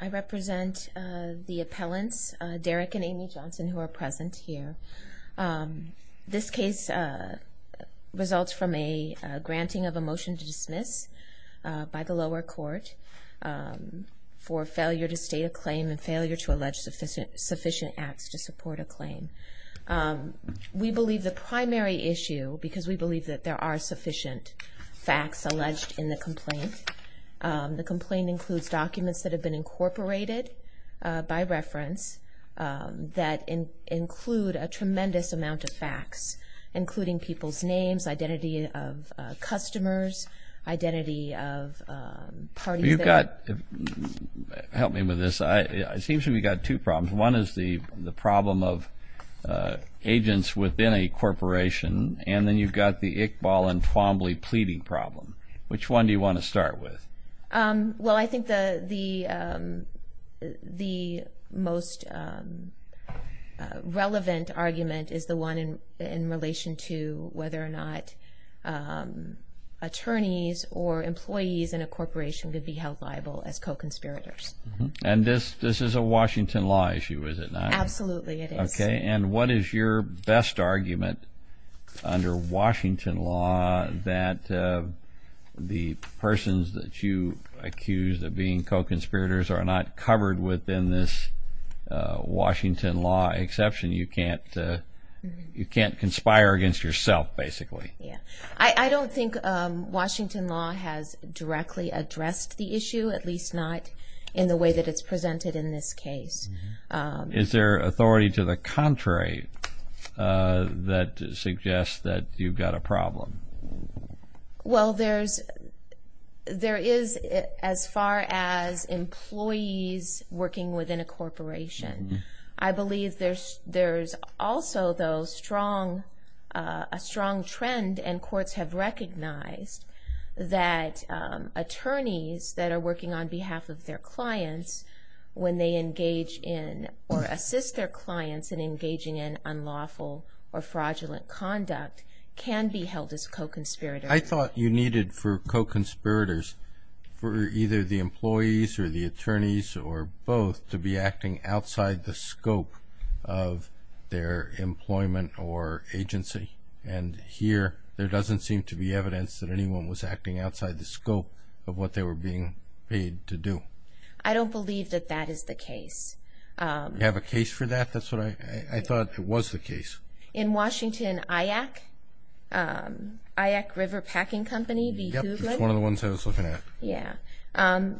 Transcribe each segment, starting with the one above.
I represent the appellants Derrick and Amy Johnson who are present here. This case results from a granting of a motion to dismiss by the lower court for failure to state a claim and failure to allege sufficient acts to support a claim. We believe the primary issue because we believe that there are that have been incorporated by reference that include a tremendous amount of facts including people's names, identity of customers, identity of parties. You've got, help me with this, it seems to me you've got two problems. One is the the problem of agents within a corporation and then you've got the Iqbal and Twombly pleading problem. Which one do you want to start with? Well I think the the most relevant argument is the one in in relation to whether or not attorneys or employees in a corporation could be held liable as co-conspirators. And this this is a Washington law issue is it not? Absolutely it is. Okay and what is your best argument under Washington law that the persons that you accuse of being co-conspirators are not covered within this Washington law exception? You can't you can't conspire against yourself basically. Yeah I don't think Washington law has directly addressed the issue at least not in the way that it's presented in this case. Is there authority to the contrary that suggests that you've got a problem? Well there's there is as far as employees working within a corporation I believe there's there's also those strong a strong trend and courts have recognized that attorneys that are working on behalf of their clients when they engage in or assist their clients in engaging in unlawful or fraudulent conduct can be held as co-conspirators. I thought you needed for co-conspirators for either the employees or the attorneys or both to be acting outside the scope of their employment or agency and here there doesn't seem to be evidence that anyone was acting outside the scope of what they were being paid to do. I don't believe that that is the case. Do you have a case for that? That's what I thought it was the case. In Washington IAC, IAC River Packing Company, one of the ones I was looking at. Yeah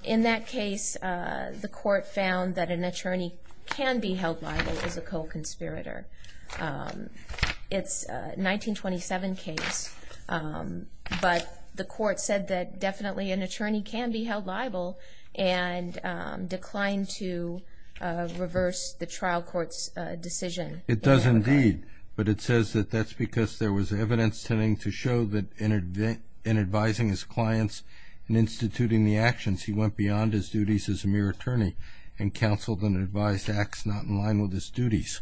in that case the court found that an attorney can be held liable as a co-conspirator. It's a 1927 case but the court said that definitely an attorney can be held liable and declined to reverse the trial court's decision. It does indeed but it says that that's because there was evidence tending to show that in advising his clients and instituting the actions he went beyond his duties as a mere attorney and counseled and advised Axe not in line with his duties.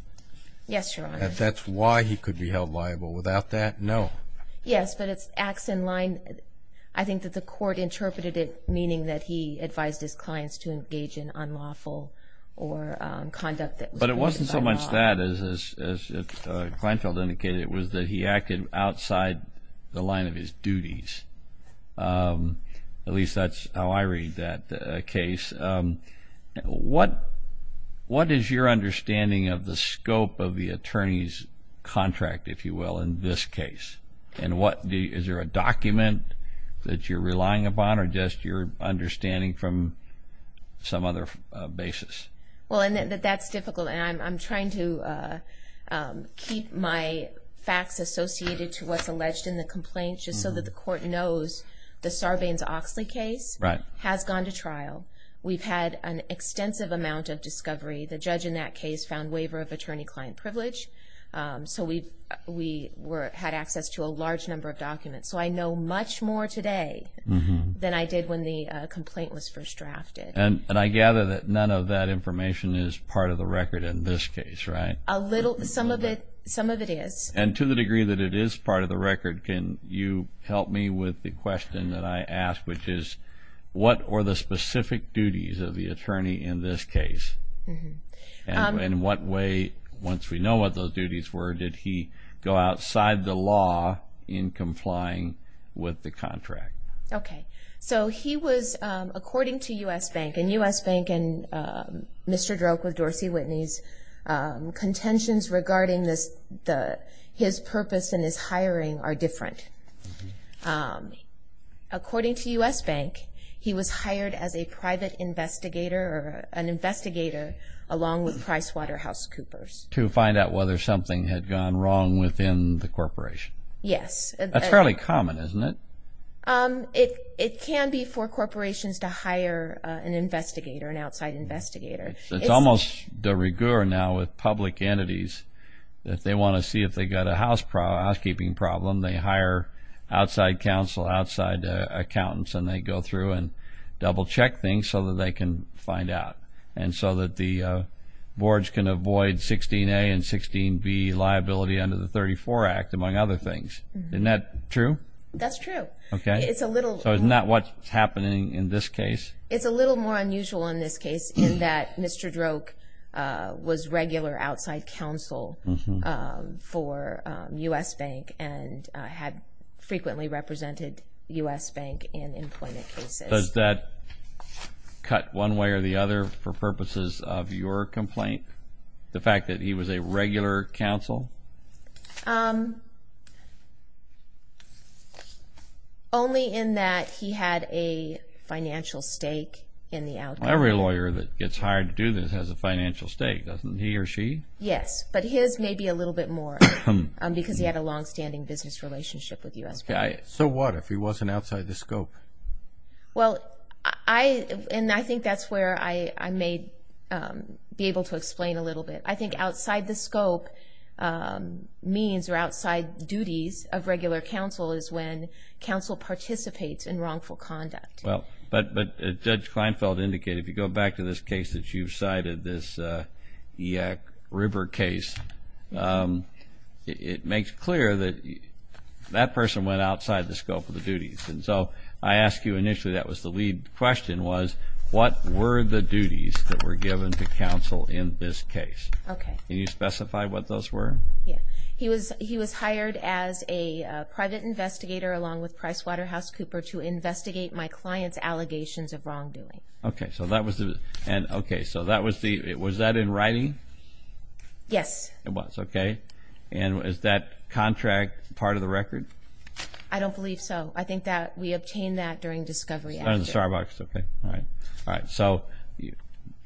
Yes, Your Honor. That's why he could be held liable. Without that, no. Yes, but it's Axe in line. I think that the court interpreted it meaning that he advised his clients to engage in unlawful or conduct that was But it wasn't so much that as Kleinfeld indicated. It was that he acted outside the line of his duties. At least that's how I read that case. What is your understanding of the scope of the attorney's contract, if you will, in this case? And what is there a document that you're relying upon or just your understanding from some other basis? Well, that's difficult and I'm in the complaints just so that the court knows the Sarbanes-Oxley case has gone to trial. We've had an extensive amount of discovery. The judge in that case found waiver of attorney-client privilege. So we had access to a large number of documents. So I know much more today than I did when the complaint was first drafted. And I gather that none of that information is part of the record in this case, right? A little. Some of it is. And to the degree that it is part of the record, can you help me with the question that I asked, which is what were the specific duties of the attorney in this case? And in what way, once we know what those duties were, did he go outside the law in complying with the contract? Okay. So he was, according to U.S. Bank, and U.S. Bank and Mr. Droke with Dorsey Whitney's contentions regarding this, his purpose and his hiring are different. According to U.S. Bank, he was hired as a private investigator or an investigator along with PricewaterhouseCoopers. To find out whether something had gone wrong within the corporation? Yes. That's fairly common, isn't it? It can be for corporations to hire an investigator, an outside investigator. It's almost de rigueur now with public entities that they want to see if they got a housekeeping problem. They hire outside counsel, outside accountants, and they go through and double-check things so that they can find out. And so that the boards can avoid 16a and 16b liability under the 34 Act, among other things. Isn't that true? That's true. Okay. So isn't that what's happening in this case? It's a little more unusual in this case in that Mr. Droke was regular outside counsel for U.S. Bank and had frequently represented U.S. Bank in employment cases. Does that cut one way or the other for purposes of your complaint? The fact that he was a regular counsel? Only in that he had a financial stake in the outcome. Every lawyer that gets hired to do this has a financial stake, doesn't he or she? Yes, but his may be a little bit more because he had a long-standing business relationship with U.S. Bank. So what if he wasn't outside the scope? Well, I think that's where I may be able to explain a little bit. I think outside the scope means or outside duties of regular counsel is when counsel participates in wrongful conduct. Well, but Judge Kleinfeld indicated, if you go back to this case that you've cited, this Yak River case, it makes clear that that person went outside the scope of the duties. And so I asked you initially, that was the lead question, was what were the duties that were given to counsel in this case? Okay. Can you specify what those were? Yeah, he was hired as a private investigator along with Pricewaterhouse Cooper to investigate my client's allegations of wrongdoing. Okay, so that was the, and okay, so that was the, was that in writing? Yes. It was, okay. And is that contract part of the record? I don't believe so. I think that we obtained that during discovery. Starbucks, okay, all right. All right, so you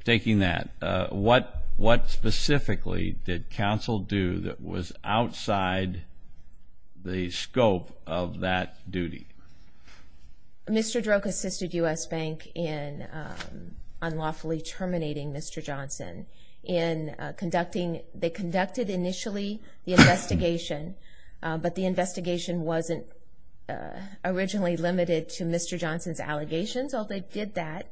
taking that, what specifically did counsel do that was outside the scope of that duty? Mr. Droke assisted U.S. Bank in unlawfully terminating Mr. Johnson in conducting, they conducted initially the investigation, but the investigation wasn't originally limited to Mr. Johnson's allegations, although they did that.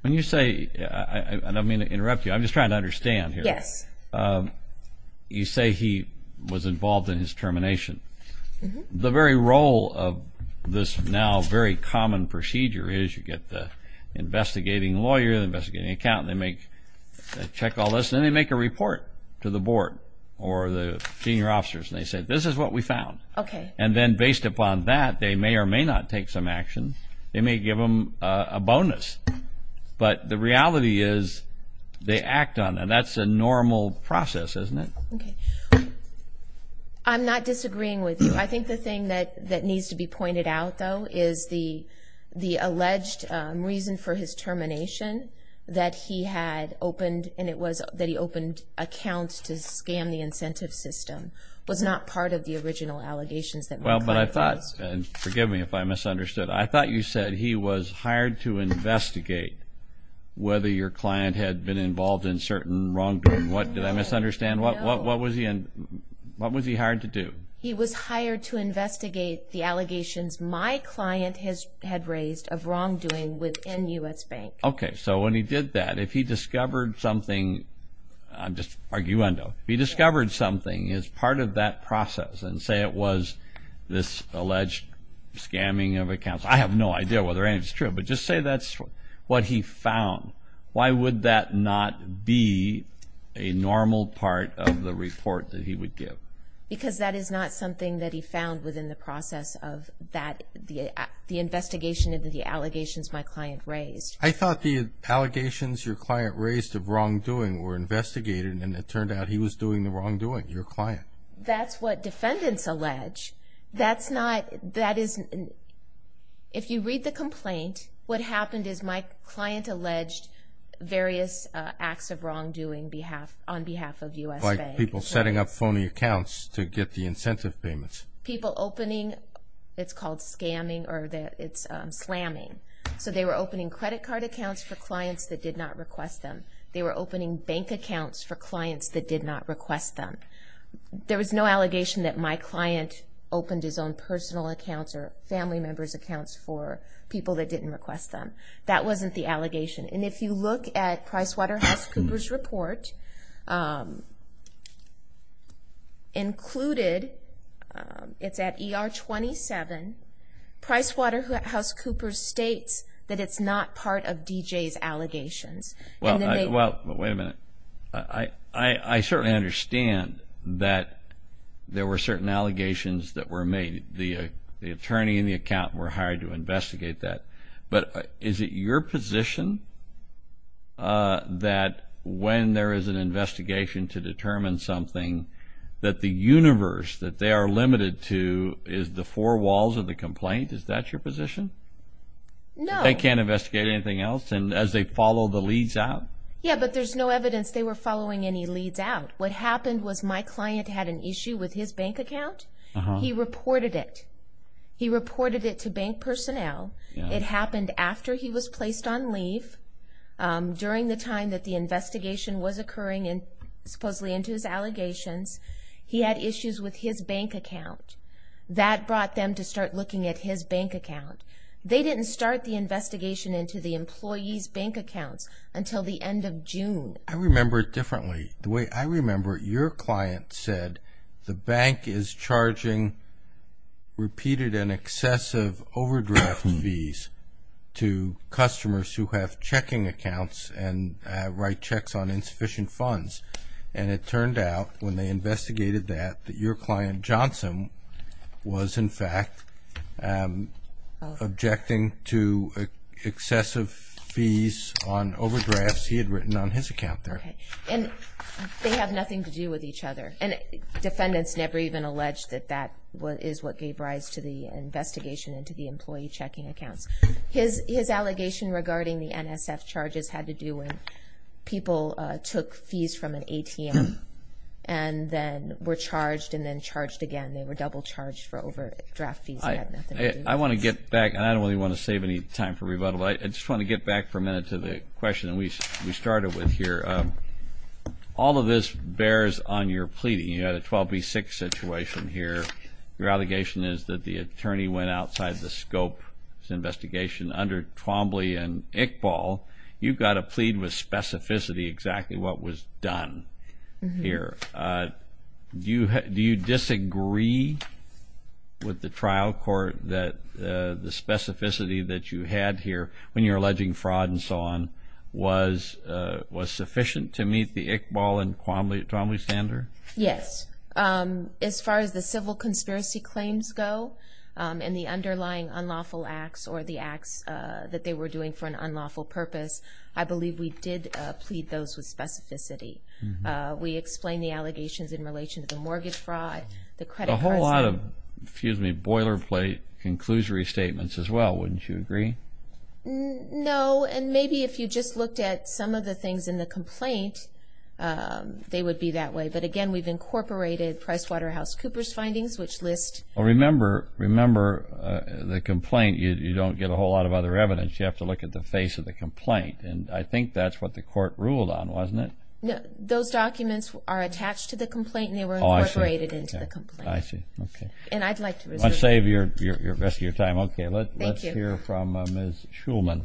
When you say, I don't mean to interrupt you, I'm just trying to understand here. Yes. You say he was involved in his termination. The very role of this now very common procedure is you get the investigating lawyer, the investigating accountant, they make, check all this, then they make a report to the board or the senior officers, and they say, this is what we found. Okay. And then a bonus. But the reality is they act on it. That's a normal process, isn't it? Okay. I'm not disagreeing with you. I think the thing that needs to be pointed out, though, is the alleged reason for his termination, that he had opened, and it was that he opened accounts to scam the incentive system, was not part of the original allegations that were made. Well, but I thought, and forgive me if I was wrong, but he was hired to investigate whether your client had been involved in certain wrongdoing. What, did I misunderstand? What was he hired to do? He was hired to investigate the allegations my client had raised of wrongdoing within U.S. Bank. Okay. So when he did that, if he discovered something, I'm just arguendo, he discovered something as part of that process, and say it was this alleged scamming of accounts. I have no idea whether or not it's true, but just say that's what he found. Why would that not be a normal part of the report that he would give? Because that is not something that he found within the process of that, the investigation into the allegations my client raised. I thought the allegations your client raised of wrongdoing were investigated, and it turned out he was doing the wrongdoing, your client. That's what defendants allege. That's not, that isn't, if you read the complaint, what happened is my client alleged various acts of wrongdoing behalf, on behalf of U.S. Bank. Like people setting up phony accounts to get the incentive payments. People opening, it's called scamming, or that it's slamming. So they were opening credit card accounts for clients that did not request them. They were opening bank accounts for clients that did not request them. There was no allegation that my client opened his own personal accounts or family members accounts for people that didn't request them. That wasn't the allegation. And if you look at PricewaterhouseCoopers report, included, it's at ER 27, PricewaterhouseCoopers states that it's not part of DJ's allegations. Well, wait a minute. I certainly understand that there were certain allegations that were made. The attorney and the accountant were hired to investigate that. But is it your position that when there is an investigation to determine something, that the universe that they are limited to is the four walls of the complaint? Is that your position? No. They can't investigate anything else? And as they follow the leads out? Yeah, but there's no evidence they were following any leads out. What happened was my client had an issue with his bank account. He reported it. He reported it to bank personnel. It happened after he was placed on leave, during the time that the investigation was occurring and supposedly into his allegations. He had issues with his bank account. That brought them to start looking at his bank account. They didn't start the investigation into the employees bank accounts until the end of the investigation. The bank is charging repeated and excessive overdraft fees to customers who have checking accounts and write checks on insufficient funds. And it turned out when they investigated that, that your client Johnson was in fact objecting to excessive fees on overdrafts he had written on his account there. And they have nothing to do with each other. And defendants never even alleged that that is what gave rise to the investigation into the employee checking accounts. His allegation regarding the NSF charges had to do with people took fees from an ATM and then were charged and then charged again. They were double charged for overdraft fees. I want to get back and I don't really want to save any time for rebuttal. I just want to get back for a question that we started with here. All of this bears on your pleading. You had a 12 v 6 situation here. Your allegation is that the attorney went outside the scope of this investigation under Twombly and Iqbal. You've got a plea with specificity exactly what was done here. Do you disagree with the trial court that the on was was sufficient to meet the Iqbal and Twombly standard? Yes. As far as the civil conspiracy claims go and the underlying unlawful acts or the acts that they were doing for an unlawful purpose, I believe we did plead those with specificity. We explained the allegations in relation to the mortgage fraud. A whole lot of, excuse me, boilerplate conclusory statements as well. Do you disagree? No, and maybe if you just looked at some of the things in the complaint, they would be that way. But again, we've incorporated PricewaterhouseCoopers findings which list... Remember, the complaint, you don't get a whole lot of other evidence. You have to look at the face of the complaint and I think that's what the court ruled on, wasn't it? No, those documents are attached to the complaint and they were incorporated into the complaint. I see, okay. I'd like to... Let's save the rest of your time. Okay, let's hear from Ms. Shulman.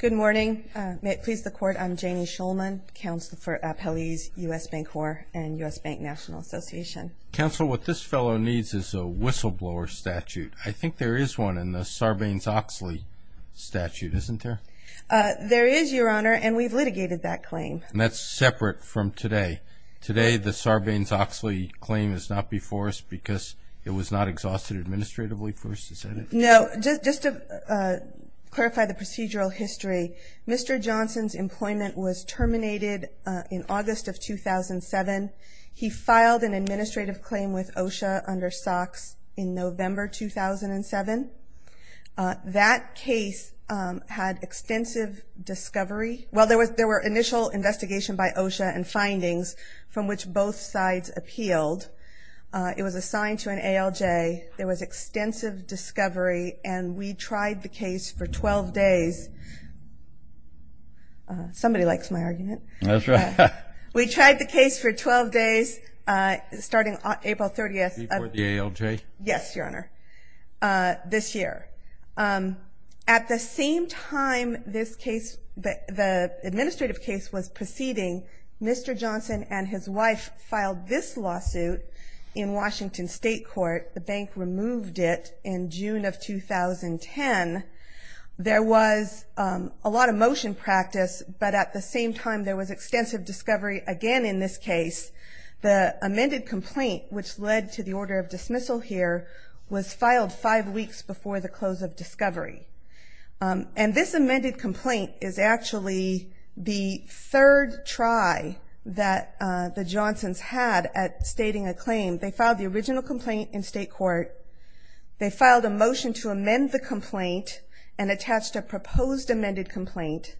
Good morning. May it please the court, I'm Janie Shulman, counsel for Appellees, U.S. Bank Corps and U.S. Bank National Association. Counsel, what this fellow needs is a whistleblower statute. I think there is one in the Sarbanes-Oxley statute, isn't there? There is, Your Honor, and we've litigated that claim. And that's separate from today. Today, the Sarbanes-Oxley claim is not before us because it was not exhausted administratively for us to set it? No, just to clarify the procedural history, Mr. Johnson's employment was terminated in August of 2007. He filed an administrative claim with OSHA under SOX in November 2007. That case had extensive discovery. Well, there were initial investigation by OSHA and findings from which both sides appealed. It was assigned to an ALJ. There was extensive discovery and we tried the case for 12 days. Somebody likes my argument. That's right. We tried the case for 12 days starting April 30th. Before the ALJ? Yes, Your Honor, this year. At the same time this case, the administrative case was proceeding, Mr. Johnson and his wife filed this lawsuit in Washington State Court. The bank removed it in June of 2010. There was a lot of motion practice, but at the same time there was a case, the amended complaint which led to the order of dismissal here was filed five weeks before the close of discovery. And this amended complaint is actually the third try that the Johnsons had at stating a claim. They filed the original complaint in state court. They filed a motion to amend the complaint and attached a proposed amended complaint.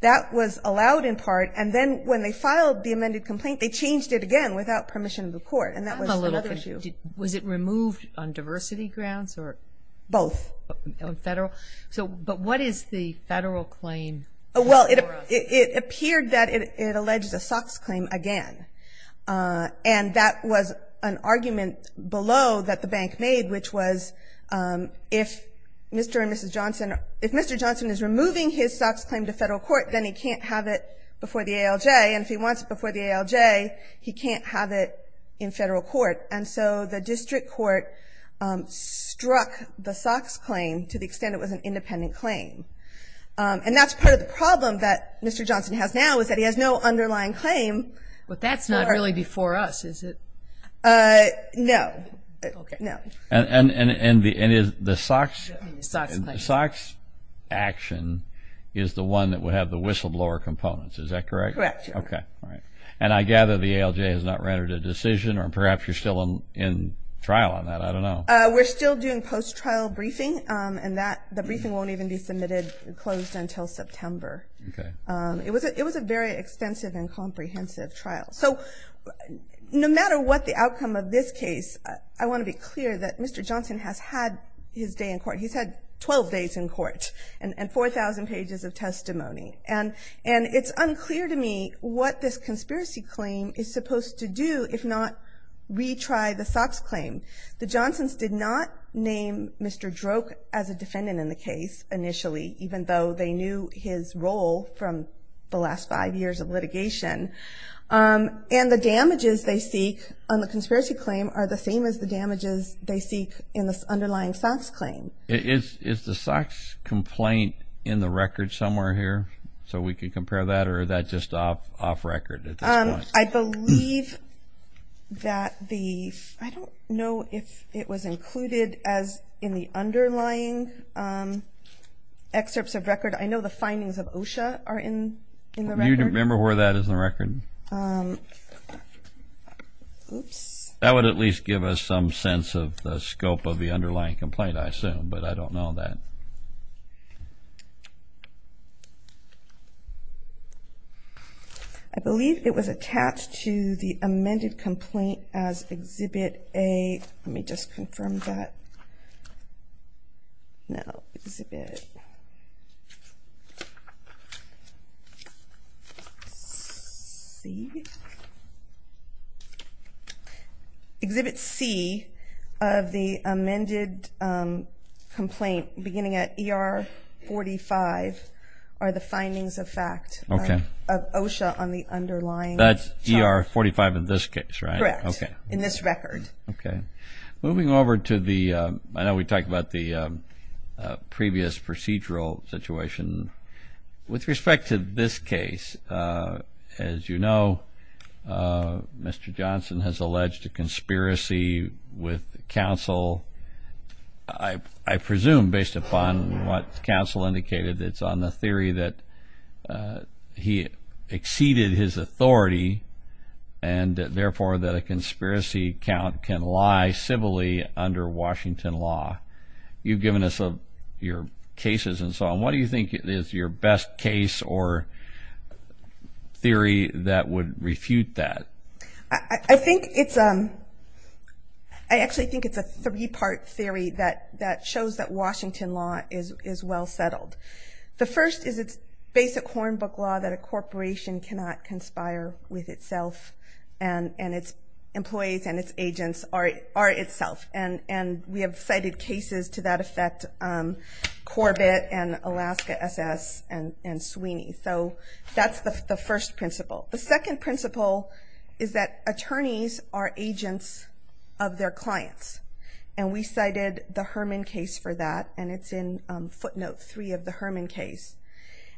That was allowed in part, and then when they filed the amended complaint, they changed it again without permission of the court. And that was another issue. Was it removed on diversity grounds or? Both. Federal? So, but what is the federal claim? Well, it appeared that it alleged a SOX claim again. And that was an argument below that the bank made, which was if Mr. and Mrs. Johnson, if Mr. Johnson is removing his SOX claim to federal court, then he can't have it before the ALJ. And if he wants it before the ALJ, he can't have it in federal court. And so the district court struck the SOX claim to the extent it was an independent claim. And that's part of the problem that Mr. Johnson has now, is that he has no underlying claim. But that's not really before us, is it? No, no. And the SOX action is the one that would have the whistleblower components. Is that correct? Correct. Okay. All right. And I gather the ALJ has not rendered a decision, or perhaps you're still in trial on that. I don't know. We're still doing post-trial briefing, and that, the briefing won't even be submitted, closed until September. Okay. It was a, it was a very extensive and comprehensive trial. So, no matter what the outcome of this case, I want to be clear that Mr. Johnson has had his day in court. He's had 12 days in court and 4,000 pages of testimony. And it's unclear to me what this conspiracy claim is supposed to do, if not retry the SOX claim. The Johnsons did not name Mr. Droke as a defendant in the case initially, even though they knew his role from the last five years of litigation. And the damages they seek on the conspiracy claim are the same as the damages they seek in the underlying SOX claim. Is the SOX complaint in the record somewhere here, so we can compare that, or that just off record at this point? I believe that the, I don't know if it was included as in the underlying excerpts of record. I know the findings of OSHA are in the record. You remember where that is in the record? That would at least give us some underlying complaint, I assume, but I don't know that. I believe it was attached to the amended complaint as Exhibit A. Let me just confirm that. No, Exhibit C. Exhibit C of the amended complaint, beginning at ER 45, are the findings of fact of OSHA on the underlying charge. That's ER 45 in this case, right? Correct. In this record. Okay. Moving over to the, I know we talked about the previous procedural situation. With respect to this case, as you know, Mr. Johnson has alleged a conspiracy with counsel, I presume based upon what counsel indicated, it's on the theory that he exceeded his authority, and therefore that a conspiracy count can lie civilly under Washington law. You've given us your cases and so on. What do you think is your best case or theory that would refute that? I think it's, I actually think it's a three-part theory that shows that Washington law is well settled. The first is it's basic hornbook law that a corporation cannot conspire with itself, and its employees and its agents are itself. And we have cited cases to that effect, Corbett and Alaska SS and Sweeney. So that's the first principle. The second principle is that attorneys are agents of their clients, and we cited the Herman case for that, and it's in footnote 3 of the Herman case.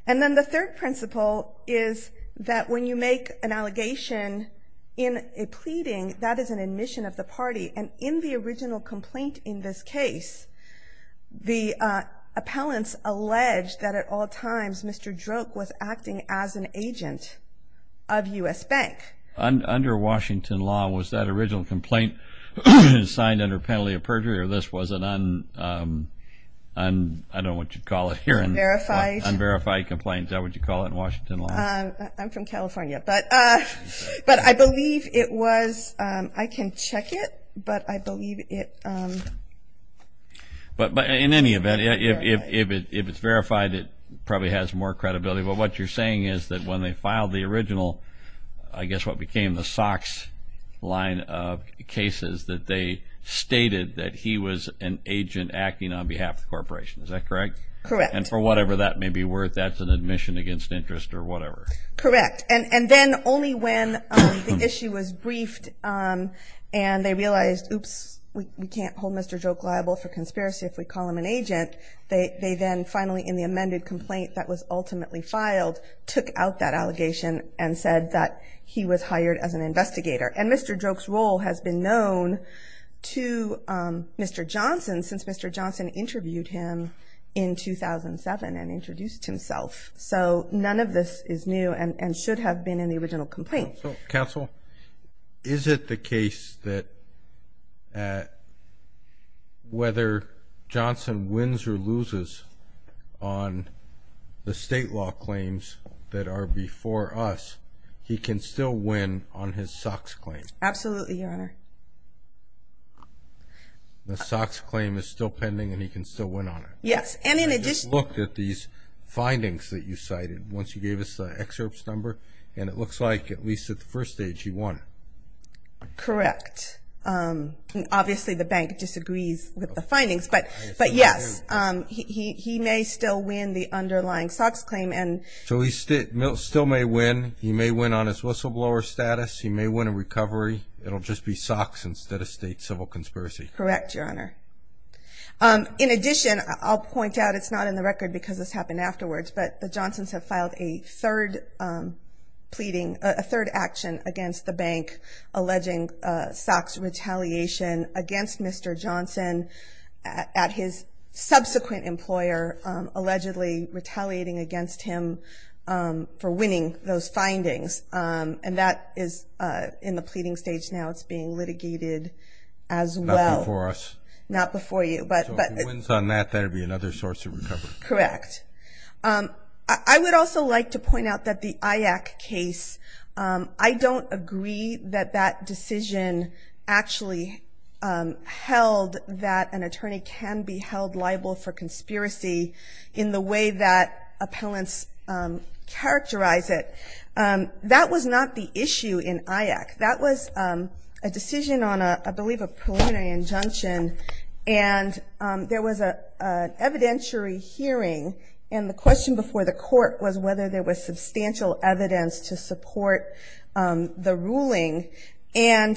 And then the third principle is that when you make an allegation in a pleading, that is an admission of the party. And in the original complaint in this case, the appellants alleged that at all times Mr. Droke was acting as an under penalty of perjury, or this was an un, I don't know what you'd call it here, unverified complaints. How would you call it in Washington law? I'm from California, but I believe it was, I can check it, but I believe it. But in any event, if it's verified, it probably has more credibility. But what you're saying is that when they filed the original, I guess what became the Sox line of cases, that they stated that he was an agent acting on behalf of the corporation. Is that correct? Correct. And for whatever that may be worth, that's an admission against interest or whatever. Correct. And then only when the issue was briefed and they realized, oops, we can't hold Mr. Droke liable for conspiracy if we call him an agent, they then finally in the amended complaint that was ultimately filed, took out that allegation and said that he was hired as an investigator. And Mr. Droke's role has been known to Mr. Johnson since Mr. Johnson interviewed him in 2007 and introduced himself. So none of this is new and should have been in the original complaint. So counsel, is it the case that whether Johnson wins or loses on the state law claims that are before us, he can still win on his Sox claim? Absolutely, Your Honor. The Sox claim is still pending and he can still win on it? Yes. And in addition... I just looked at these findings that you cited once you gave us the excerpts number and it looks like at least at the first stage he won. Correct. Obviously the bank disagrees with the findings, but yes, he may still win the underlying Sox claim and... So he still may win. He may win on his whistleblower status. He may win a recovery. It'll just be Sox instead of state civil conspiracy. Correct, Your Honor. In addition, I'll point out it's not in the record because this happened afterwards, but the Johnsons have filed a third pleading, a third action against the bank alleging Sox retaliation against Mr. Johnson at his subsequent employer, allegedly retaliating against him for winning those findings. And that is in the pleading stage now. It's being litigated as well. Not before us? Not before you, but... So if he wins on that, that would be another source of recovery? Correct. I would also like to point out that the IAC case, I don't agree that that decision actually held that an attorney can be held liable for conspiracy in the way that appellants characterize it. That was not the issue in IAC. That was a decision on a, I believe, a preliminary injunction, and there was an evidentiary hearing, and the question before the court was whether there was substantial evidence to support the ruling. And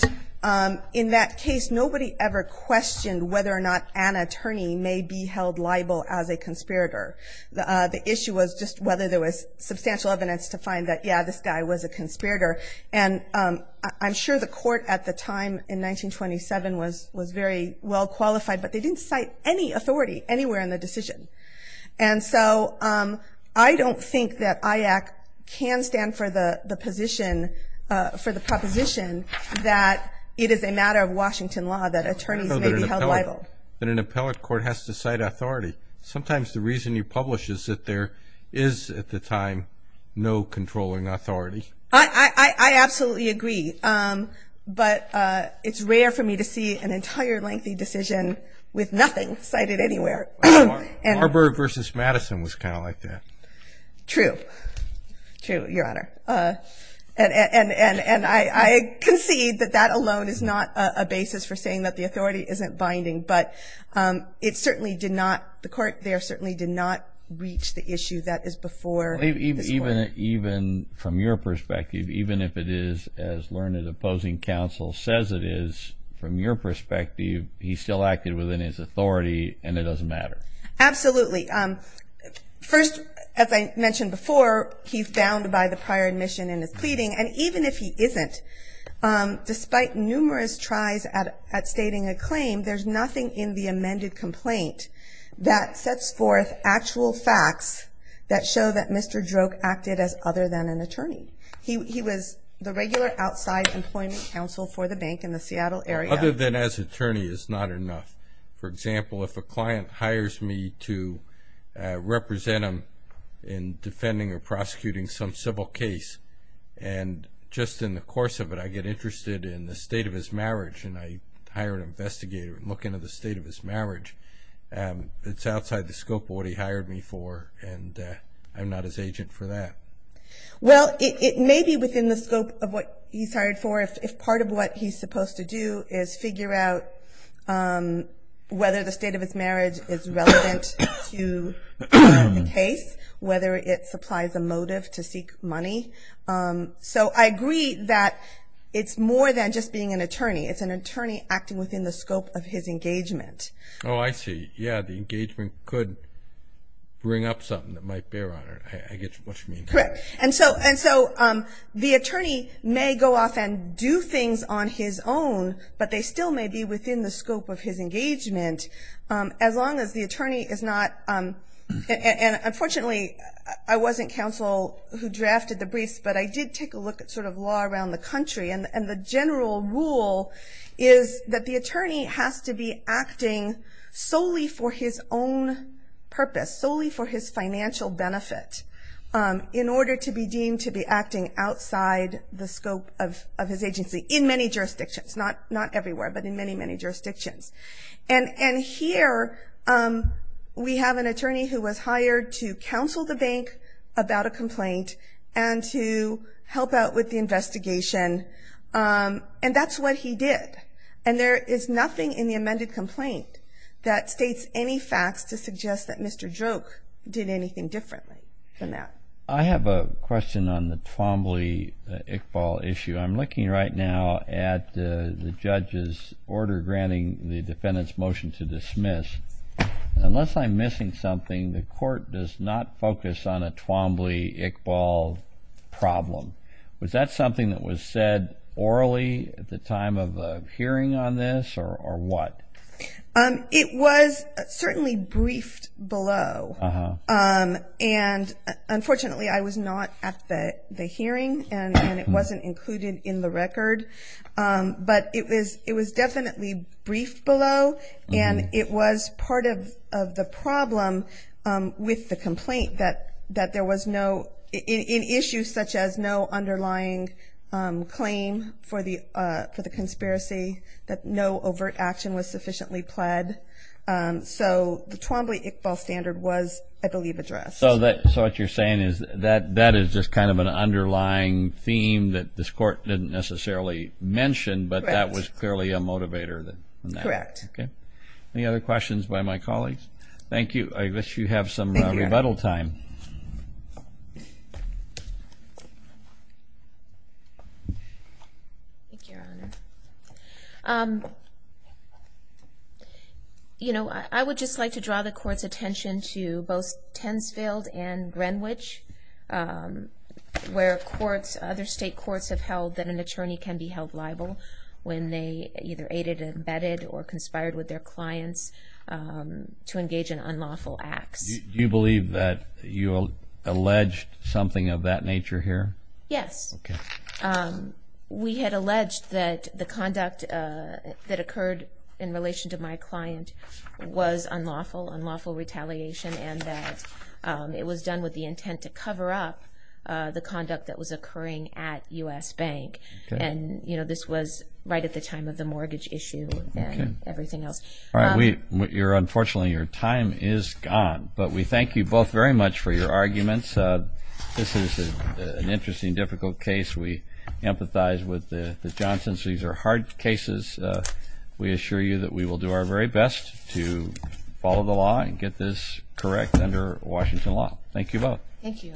in that case, nobody ever questioned whether or not an attorney may be held liable as a conspirator. The issue was just whether there was substantial evidence to find that, yeah, this guy was a conspirator. And I'm sure the court at the time, in 1927, was very well qualified, but they didn't cite any authority anywhere in the decision. And so I don't think that IAC can stand for the position, for the proposition that it is a matter of Washington law that attorneys may be held liable. I know that an appellate court has to cite authority. Sometimes the reason you publish is that there is, at the time, no controlling authority. I absolutely agree, but it's rare for me to see an entire lengthy decision with nothing cited anywhere. Marburg versus Madison was kind of like that. True. True, Your Honor. And I concede that that alone is not a basis for saying that the authority isn't binding, but it certainly did not, the court there certainly did not reach the issue that is before the court. Even from your perspective, even if it is, as learned opposing counsel says it is, from your perspective, he still acted within his authority and it doesn't matter. Absolutely. First, as I mentioned before, he's bound by the prior admission in his pleading. And even if he isn't, despite numerous tries at stating a claim, there's nothing in the amended complaint that sets forth actual facts that show that Mr. Droke acted as other than an attorney. He was the regular outside employment counsel for the bank in the Seattle area. Other than as attorney is not enough. For example, if a client hires me to represent him in defending or prosecuting some civil case and just in the course of it, I get interested in the state of his marriage and I hire an investigator and look into the state of his marriage, it's outside the scope of what he hired me for and I'm not his agent for that. Well, it may be within the scope of what he's hired for if part of what he's supposed to do is figure out whether the state of his marriage is relevant to the case, whether it supplies a motive to seek money. So I agree that it's more than just being an attorney. It's an attorney acting within the scope of his engagement. Oh, I see. Yeah, the engagement could bring up something that might bear on it. I get what you mean. And so the attorney may go off and do things on his own, but they still may be within the scope of his engagement as long as the attorney is not, and unfortunately I wasn't counsel who drafted the briefs, but I did take a look at sort of law around the country and the general rule is that the attorney has to be acting solely for his own purpose, solely for his financial benefit in order to be deemed to be acting outside the scope of his agency in many jurisdictions, not everywhere, but in many, many jurisdictions. And here we have an attorney who was hired to counsel the bank about a complaint and to help out with the investigation and that's what he did. And there is nothing in the amended joke did anything differently than that. I have a question on the Twombly-Iqbal issue. I'm looking right now at the judge's order granting the defendant's motion to dismiss. Unless I'm missing something, the court does not focus on a Twombly-Iqbal problem. Was that something that was said orally at the time of hearing on this or what? It was certainly briefed below and unfortunately I was not at the hearing and it wasn't included in the record, but it was definitely briefed below and it was part of the problem with the complaint that there was no, in issues such as no underlying claim for the conspiracy, that no overt action was sufficiently pled. So the Twombly-Iqbal standard was, I believe, addressed. So what you're saying is that that is just kind of an underlying theme that this court didn't necessarily mention, but that was clearly a motivator in that. Correct. Any other questions by my colleagues? Thank you. I wish you have some rebuttal time. Thank you, Your Honor. You know, I would just like to draw the court's attention to both Tensfield and Greenwich, where courts, other state courts have held that an attorney can be held liable when they either aided and abetted or conspired with their clients to engage in unlawful acts. Do you believe that you alleged something of that nature here? Yes. We had alleged that the conduct that occurred in relation to my client was unlawful, unlawful retaliation, and that it was done with the intent to cover up the conduct that was occurring at U.S. Bank. And, you know, this was right at the time of the mortgage issue and everything else. All right. Unfortunately, your time is gone, but we thank you both very much for your arguments. This is an interesting, difficult case. We empathize with the Johnson's. These are hard cases. We assure you that we will do our very best to follow the law and get this correct under Washington law. Thank you both. Thank you, Your Honor.